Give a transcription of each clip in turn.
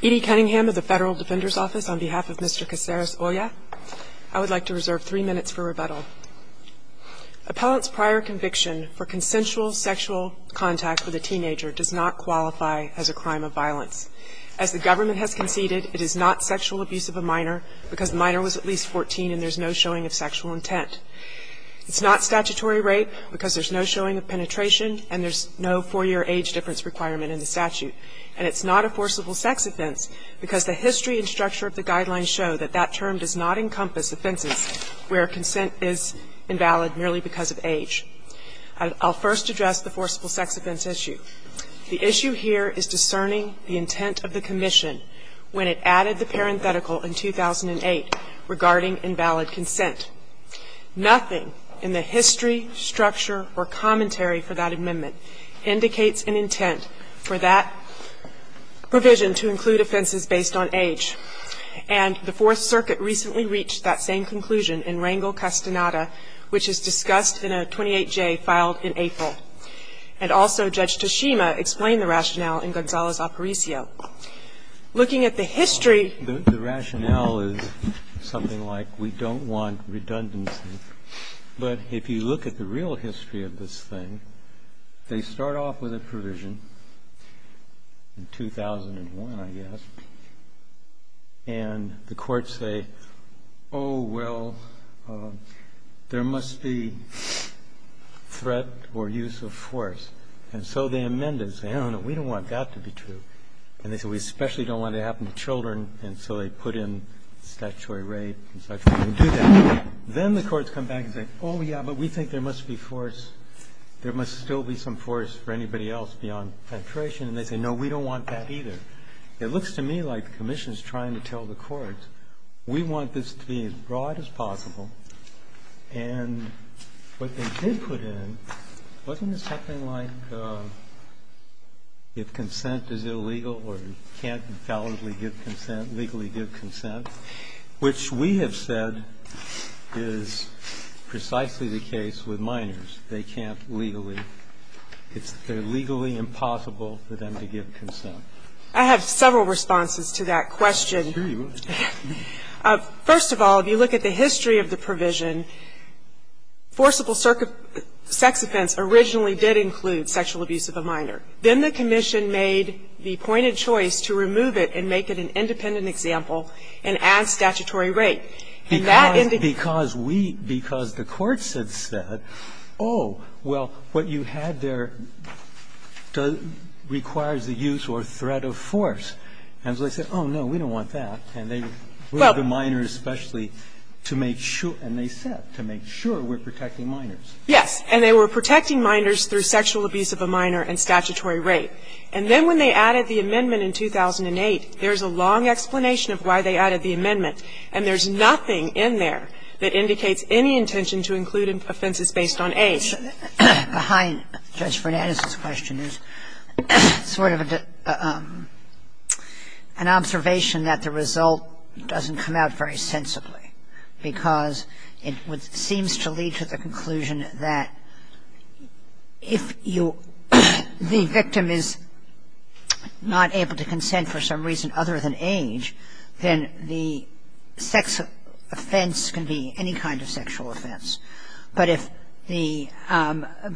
Edie Cunningham of the Federal Defender's Office, on behalf of Mr. Caceres-Olla, I would like to reserve three minutes for rebuttal. Appellant's prior conviction for consensual sexual contact with a teenager does not qualify as a crime of violence. As the government has conceded, it is not sexual abuse of a minor because the minor was at least 14 and there's no showing of sexual intent. It's not statutory rape because there's no showing of penetration and there's no four-year age difference requirement in the statute. And it's not a forcible sex offense because the history and structure of the Guidelines show that that term does not encompass offenses where consent is invalid merely because of age. I'll first address the forcible sex offense issue. The issue here is discerning the intent of the Commission when it added the parenthetical in 2008 regarding invalid consent. Nothing in the history, structure, or commentary for that amendment indicates an intent for that provision to include offenses based on age. And the Fourth Circuit recently reached that same conclusion in Rangel-Castaneda, which is discussed in a 28J filed in April. And also Judge Toshima explained the rationale in Gonzales-Aparicio. Looking at the history of this case, the rationale is something like we don't want redundancy. But if you look at the real history of this thing, they start off with a provision in 2001, I guess, and the courts say, oh, well, there must be threat or use of force. And so they amend it and say, oh, no, we don't want that to be true. And they say, we especially don't want it to happen to children. And so they put in statutory rape and such. And they do that. Then the courts come back and say, oh, yeah, but we think there must be force. There must still be some force for anybody else beyond penetration. And they say, no, we don't want that either. It looks to me like the Commission is trying to tell the courts, we want this to be as broad as possible. And what they did put in wasn't something like if consent is illegal or you can't validly give consent, legally give consent, which we have said is precisely the case with minors. They can't legally ‑‑ it's legally impossible for them to give consent. I have several responses to that question. Sure you would. First of all, if you look at the history of the provision, forcible sex offense originally did include sexual abuse of a minor. Then the Commission made the pointed choice to remove it and make it an independent example and add statutory rape. And that in the ‑‑ Because we ‑‑ because the courts had said, oh, well, what you had there requires a use or threat of force. And so they said, oh, no, we don't want that. And they ‑‑ Well ‑‑ We have the minors especially to make sure, and they said, to make sure we're protecting minors. Yes. And they were protecting minors through sexual abuse of a minor and statutory rape. And then when they added the amendment in 2008, there's a long explanation of why they added the amendment, and there's nothing in there that indicates any intention to include offenses based on age. The question behind Judge Fernandez's question is sort of an observation that the result doesn't come out very sensibly, because it seems to lead to the conclusion that if you ‑‑ the victim is not able to consent for some reason other than age, then the sex offense can be any kind of sexual offense. But if the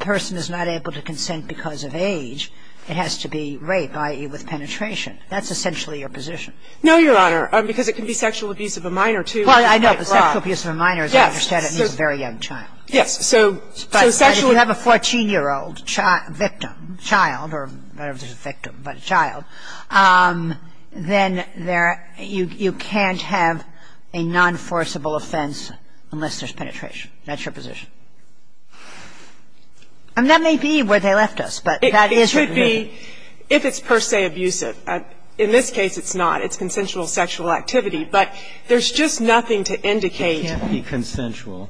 person is not able to consent because of age, it has to be rape, i.e., with penetration. That's essentially your position. No, Your Honor, because it can be sexual abuse of a minor, too. Well, I know, but sexual abuse of a minor, as I understand it, means a very young child. Yes. So ‑‑ But if you have a 14‑year‑old victim, child, or victim, but a child, then you can't have a nonforceable offense unless there's penetration. That's your position. And that may be where they left us, but that is your position. It should be, if it's per se abusive. In this case, it's not. It's consensual sexual activity. But there's just nothing to indicate ‑‑ It can't be consensual.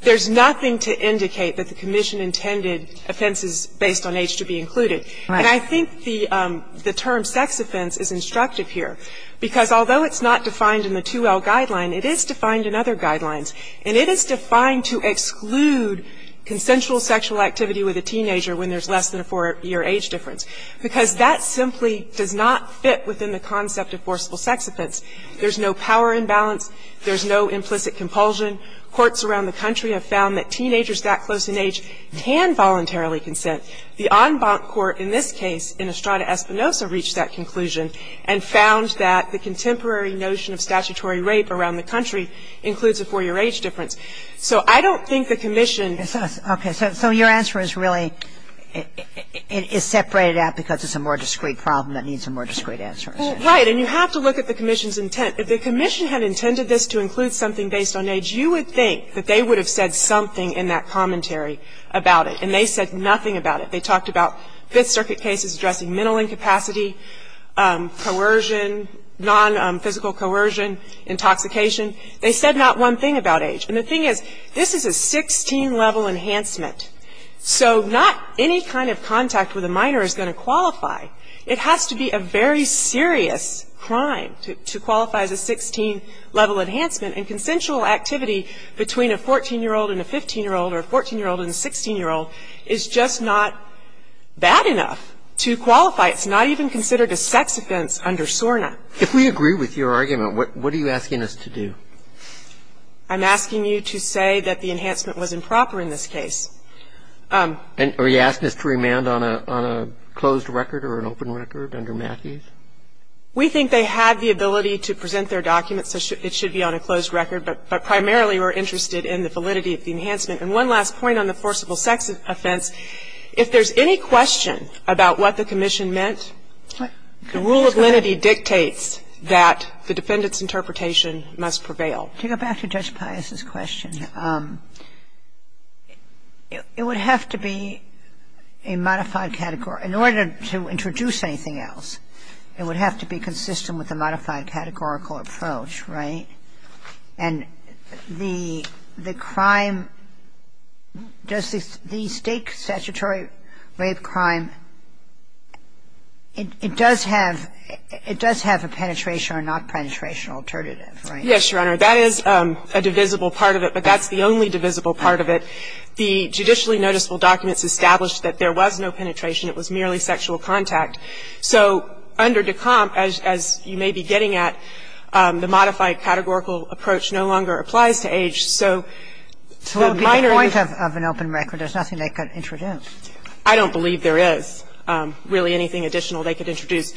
There's nothing to indicate that the commission intended offenses based on age to be included. And I think the term sex offense is instructive here. Because although it's not defined in the 2L guideline, it is defined in other guidelines. And it is defined to exclude consensual sexual activity with a teenager when there's less than a 4‑year age difference. Because that simply does not fit within the concept of forceable sex offense. There's no power imbalance. There's no implicit compulsion. Courts around the country have found that teenagers that close in age can voluntarily consent. The en banc court in this case, in Estrada Espinosa, reached that conclusion and found that the contemporary notion of statutory rape around the country includes a 4‑year age difference. So I don't think the commission ‑‑ Okay. So your answer is really ‑‑ is separated out because it's a more discreet problem that needs a more discreet answer. Well, right. And you have to look at the commission's intent. If the commission had intended this to include something based on age, you would think that they would have said something in that commentary about it. And they said nothing about it. They talked about Fifth Circuit cases addressing mental incapacity, coercion, non‑physical coercion, intoxication. They said not one thing about age. And the thing is, this is a 16‑level enhancement. So not any kind of contact with a minor is going to qualify. It has to be a very serious crime to qualify as a 16‑level enhancement. And consensual activity between a 14‑year old and a 15‑year old or a 14‑year old and a 16‑year old is just not bad enough to qualify. It's not even considered a sex offense under SORNA. If we agree with your argument, what are you asking us to do? I'm asking you to say that the enhancement was improper in this case. And are you asking us to remand on a closed record or an open record under Matthews? We think they have the ability to present their documents. It should be on a closed record. But primarily we're interested in the validity of the enhancement. And one last point on the forcible sex offense. If there's any question about what the commission meant, the rule of lenity dictates that the defendant's interpretation must prevail. To go back to Judge Pius's question, it would have to be a modified category. In order to introduce anything else, it would have to be consistent with a modified categorical approach, right? And the crime, the state statutory rape crime, it does have a penetration or not penetration alternative, right? Yes, Your Honor. That is a divisible part of it. But that's the only divisible part of it. The judicially noticeable documents established that there was no penetration. It was merely sexual contact. So under Decompt, as you may be getting at, the modified categorical approach no longer applies to age. So the minor is the point of an open record. There's nothing they could introduce. I don't believe there is really anything additional they could introduce.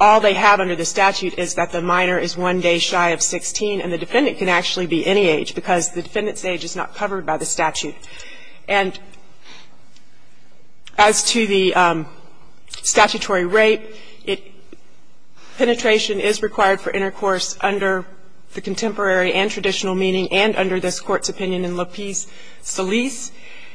All they have under the statute is that the minor is one day shy of 16, and the defendant can actually be any age, because the defendant's age is not covered by the statute. And as to the statutory rape, penetration is required for intercourse under the contemporary and traditional meaning and under this Court's opinion in Lapis Salis.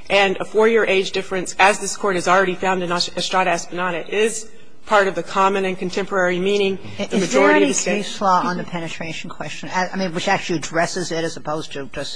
And a 4-year age difference, as this Court has already found in Ostrada-Espinada, is part of the common and contemporary meaning. The majority of the cases we've heard about in this Court's opinion in Lapis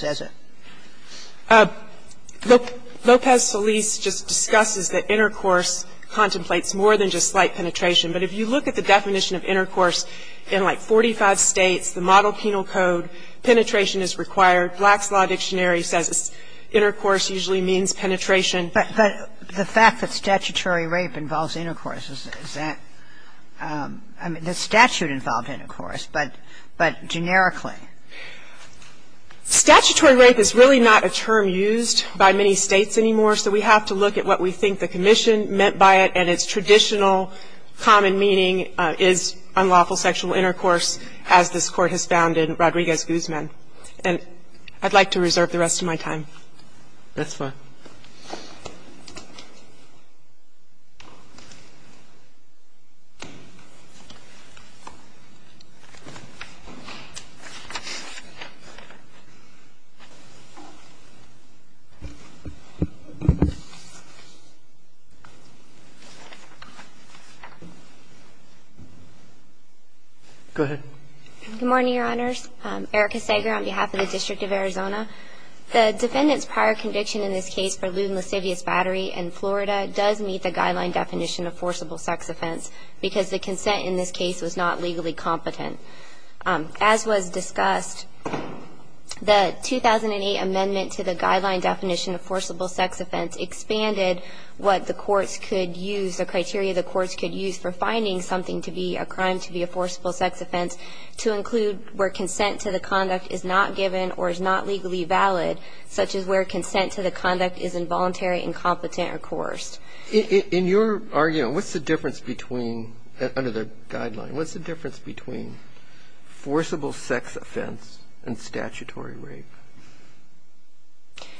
Salis Lopez Salis just discusses that intercourse contemplates more than just slight penetration. But if you look at the definition of intercourse in, like, 45 States, the Model Penal Code, penetration is required. Black's Law Dictionary says intercourse usually means penetration. But the fact that statutory rape involves intercourse, is that the statute involved intercourse, but generically? Statutory rape is really not a term used by many States anymore, so we have to look at what we think the Commission meant by it and its traditional common meaning is unlawful sexual intercourse, as this Court has found in Rodriguez-Guzman. And I'd like to reserve the rest of my time. That's fine. Go ahead. Good morning, Your Honors. Erica Sager on behalf of the District of Arizona. The defendant's prior conviction in this case is that she was sexually assaulted by a man. The defendant's prior conviction in this case is that she was sexually assaulted by a man. The defendant's prior conviction in this case is that she was sexually assaulted by a man. And the defense doesn't know, by any means, what the court precluded, such as consent to the conduct, is involuntary, or coerced. In your argument, what's the difference, under the guideline, what's the difference between forcible sex offense and statutory rape?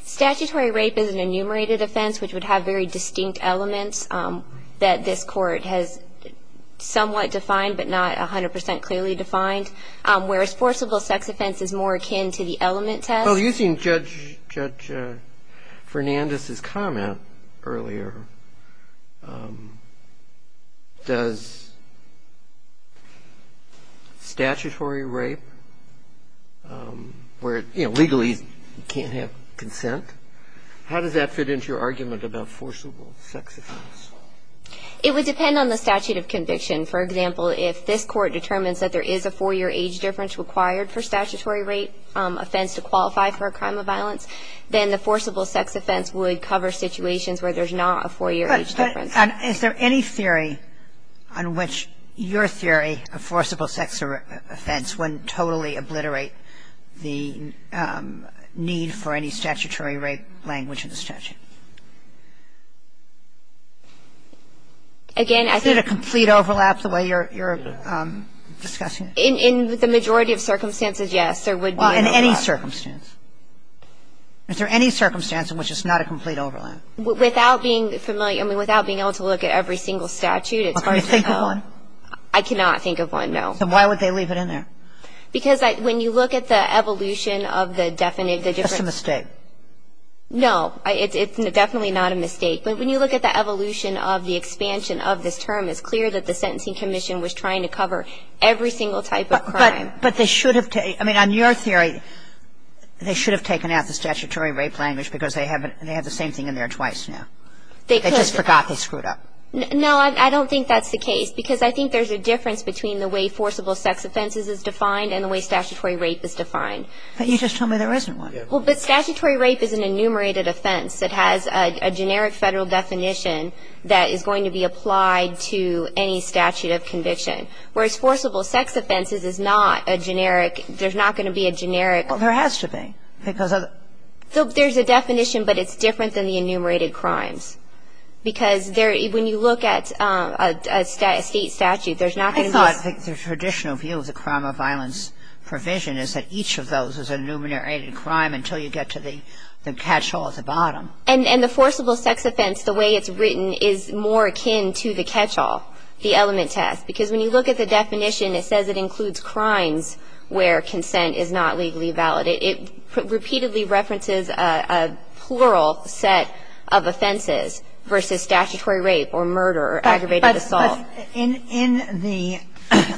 Statutory rape is an enumerated offense, which would have very distinct elements that this court has somewhat defined, but not 100 percent clearly defined, whereas forcible sex offense is more akin to the element test. Well, using Judge Fernandez's comment earlier, does statutory rape, where, you know, legally you can't have consent, how does that fit into your argument about forcible sex offense? It would depend on the statute of conviction. For example, if this court determines that there is a four-year age difference required for statutory rape offense to qualify for a crime of violence, then the forcible sex offense would cover situations where there's not a four-year age difference. But is there any theory on which your theory of forcible sex offense would totally obliterate the need for any statutory rape language in the statute? Again, I think — Is it a complete overlap, the way you're discussing it? In the majority of circumstances, yes. There would be an overlap. Well, in any circumstance. Is there any circumstance in which it's not a complete overlap? Without being familiar — I mean, without being able to look at every single statute, it's probably — Can you think of one? I cannot think of one, no. Then why would they leave it in there? Because when you look at the evolution of the — Just a mistake. No. It's definitely not a mistake. But when you look at the evolution of the expansion of this term, it's clear that the Sentencing Commission was trying to cover every single type of crime. But they should have — I mean, on your theory, they should have taken out the statutory rape language because they have the same thing in there twice now. They could. They just forgot they screwed up. No, I don't think that's the case. Because I think there's a difference between the way forcible sex offenses is defined and the way statutory rape is defined. But you just told me there isn't one. Well, but statutory rape is an enumerated offense. It has a generic Federal definition that is going to be applied to any statute of conviction. Whereas forcible sex offenses is not a generic — there's not going to be a generic — Well, there has to be because of — There's a definition, but it's different than the enumerated crimes. Because when you look at a state statute, there's not going to be a — I think the traditional view of the crime of violence provision is that each of those is an enumerated crime until you get to the catch-all at the bottom. And the forcible sex offense, the way it's written, is more akin to the catch-all, the element test, because when you look at the definition, it says it includes crimes where consent is not legally valid. It repeatedly references a plural set of offenses versus statutory rape or murder or aggravated assault. But in the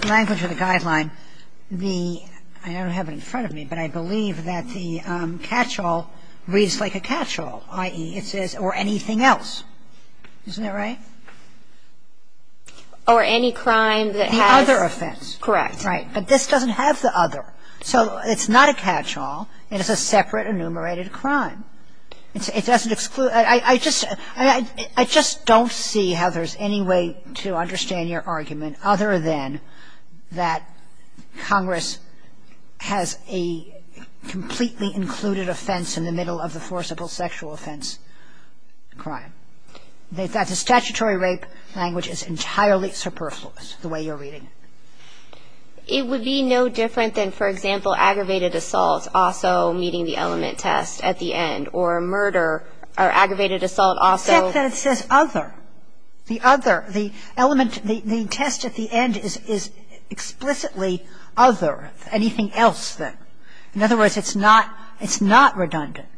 language of the guideline, the — I don't have it in front of me, but I believe that the catch-all reads like a catch-all, i.e., it says, or anything else. Isn't that right? Or any crime that has — The other offense. Correct. But this doesn't have the other. So it's not a catch-all. It is a separate enumerated crime. It doesn't — I just don't see how there's any way to understand your argument other than that Congress has a completely included offense in the middle of the forcible sexual offense crime. That the statutory rape language is entirely superfluous, the way you're reading it. It would be no different than, for example, aggravated assault also meeting the element test at the end, or murder or aggravated assault also. Except that it says other. The other. The element — the test at the end is explicitly other. Anything else, then? In other words, it's not — it's not redundant.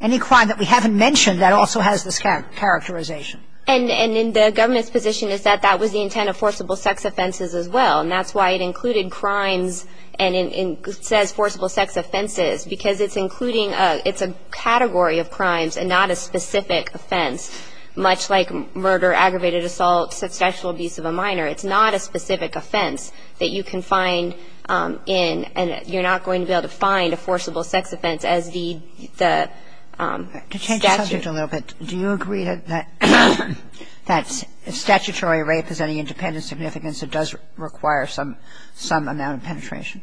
Any crime that we haven't mentioned, that also has this characterization. And in the government's position is that that was the intent of forcible sex offenses as well. And that's why it included crimes and it says forcible sex offenses, because it's including a — it's a category of crimes and not a specific offense, much like murder, aggravated assault, sexual abuse of a minor. It's not a specific offense that you can find in and you're not going to be able to find a forcible sex offense as the statute. To change the subject a little bit, do you agree that statutory rape is any independent significance? It does require some amount of penetration.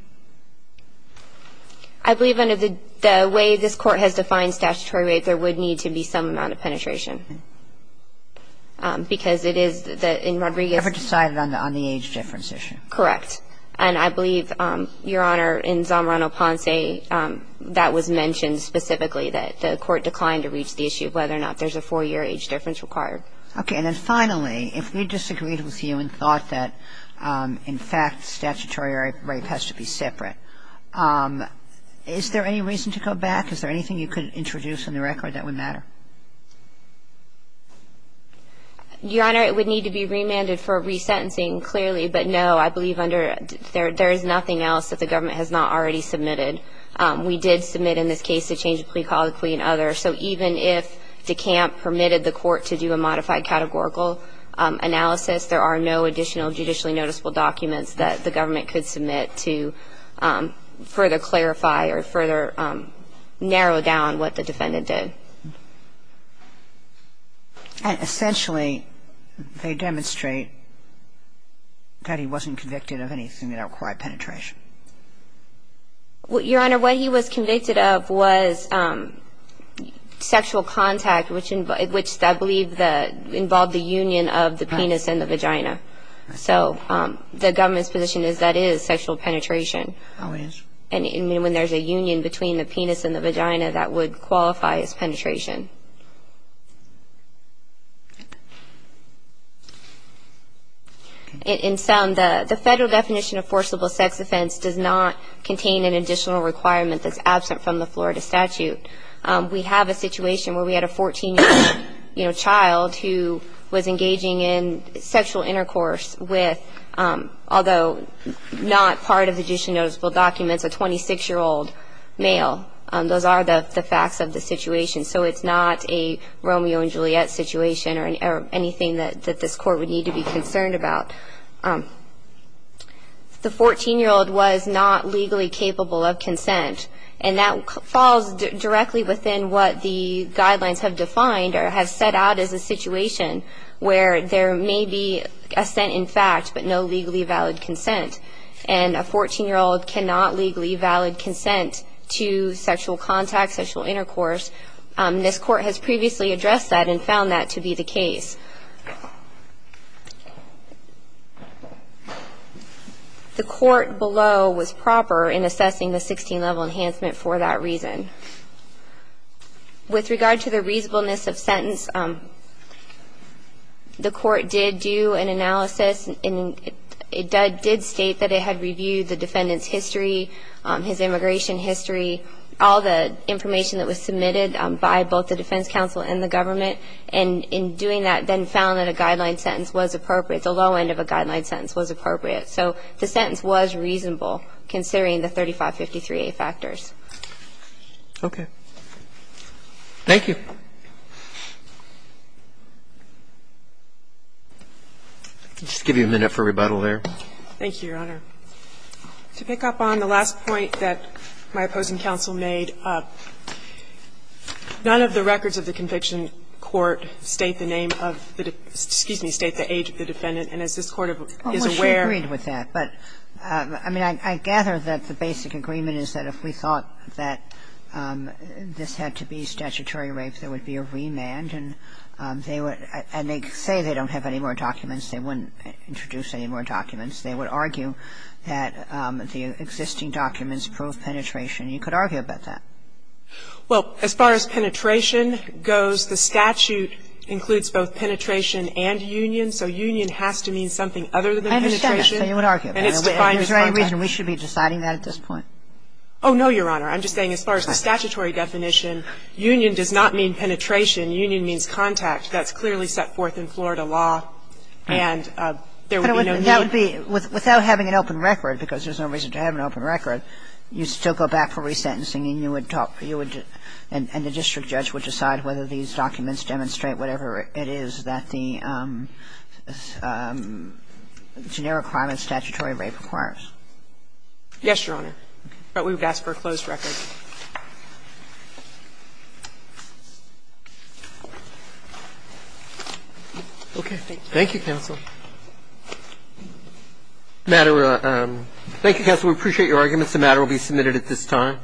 I believe under the way this Court has defined statutory rape, there would need to be some amount of penetration. Because it is that in Rodriguez — Ever decided on the age difference issue. Correct. And I believe, Your Honor, in Zamorano-Ponce, that was mentioned specifically that the Court declined to reach the issue of whether or not there's a four-year age difference required. Okay. And then finally, if we disagreed with you and thought that, in fact, statutory rape has to be separate, is there any reason to go back? Is there anything you could introduce in the record that would matter? Your Honor, it would need to be remanded for resentencing, clearly. But no, I believe under — there is nothing else that the government has not already submitted. We did submit in this case to change the plea, call the plea, and other. So even if DeCamp permitted the Court to do a modified categorical analysis, there are no additional judicially noticeable documents that the government could submit to further clarify or further narrow down what the defendant did. And essentially, they demonstrate that he wasn't convicted of anything that required penetration. Your Honor, what he was convicted of was sexual contact, which I believe involved the union of the penis and the vagina. So the government's position is that is sexual penetration. Oh, it is. And when there's a union between the penis and the vagina, that would qualify as penetration. In sum, the federal definition of forcible sex offense does not contain an additional requirement that's absent from the Florida statute. We have a situation where we had a 14-year-old child who was engaging in sexual intercourse with, although not part of the judicially noticeable documents, a 26-year-old male. Those are the facts of the situation. So it's not a Romeo and Juliet situation or anything that this Court would need to be concerned about. The 14-year-old was not legally capable of consent, and that falls directly within what the guidelines have defined or have set out as a situation where there may be assent in fact, but no legally valid consent. And a 14-year-old cannot legally valid consent to sexual contact, sexual intercourse. This Court has previously addressed that and found that to be the case. The Court below was proper in assessing the 16-level enhancement for that reason. With regard to the reasonableness of sentence, the Court did do an analysis, and it did state that it had reviewed the defendant's history, his immigration history, all the information that was submitted by both the defense counsel and the government, and in doing that, then found that a guideline sentence was appropriate, the low end of a guideline sentence was appropriate. So the sentence was reasonable considering the 3553A factors. Roberts. Thank you. I'll just give you a minute for rebuttal there. Thank you, Your Honor. To pick up on the last point that my opposing counsel made, none of the records of the conviction court state the name of the defendant, excuse me, state the age of the defendant, and as this Court is aware. Almost agreed with that, but I mean, I gather that the basic agreement is that if we thought that this had to be statutory rape, there would be a remand, and they would say they don't have any more documents. They wouldn't introduce any more documents. They would argue that the existing documents prove penetration. You could argue about that. Well, as far as penetration goes, the statute includes both penetration and union, so union has to mean something other than penetration. I understand that, but you would argue about it. Is there any reason we should be deciding that at this point? Oh, no, Your Honor. I'm just saying as far as the statutory definition, union does not mean penetration. Union means contact. That's clearly set forth in Florida law, and there would be no need. That would be, without having an open record, because there's no reason to have an open record, you still go back for resentencing and you would talk, you would, and the district judge would decide whether these documents demonstrate whatever it is that the generic crime and statutory rape requires. Yes, Your Honor. But we would ask for a closed record. Okay. Thank you, counsel. Thank you, counsel. We appreciate your arguments. The matter will be submitted at this time.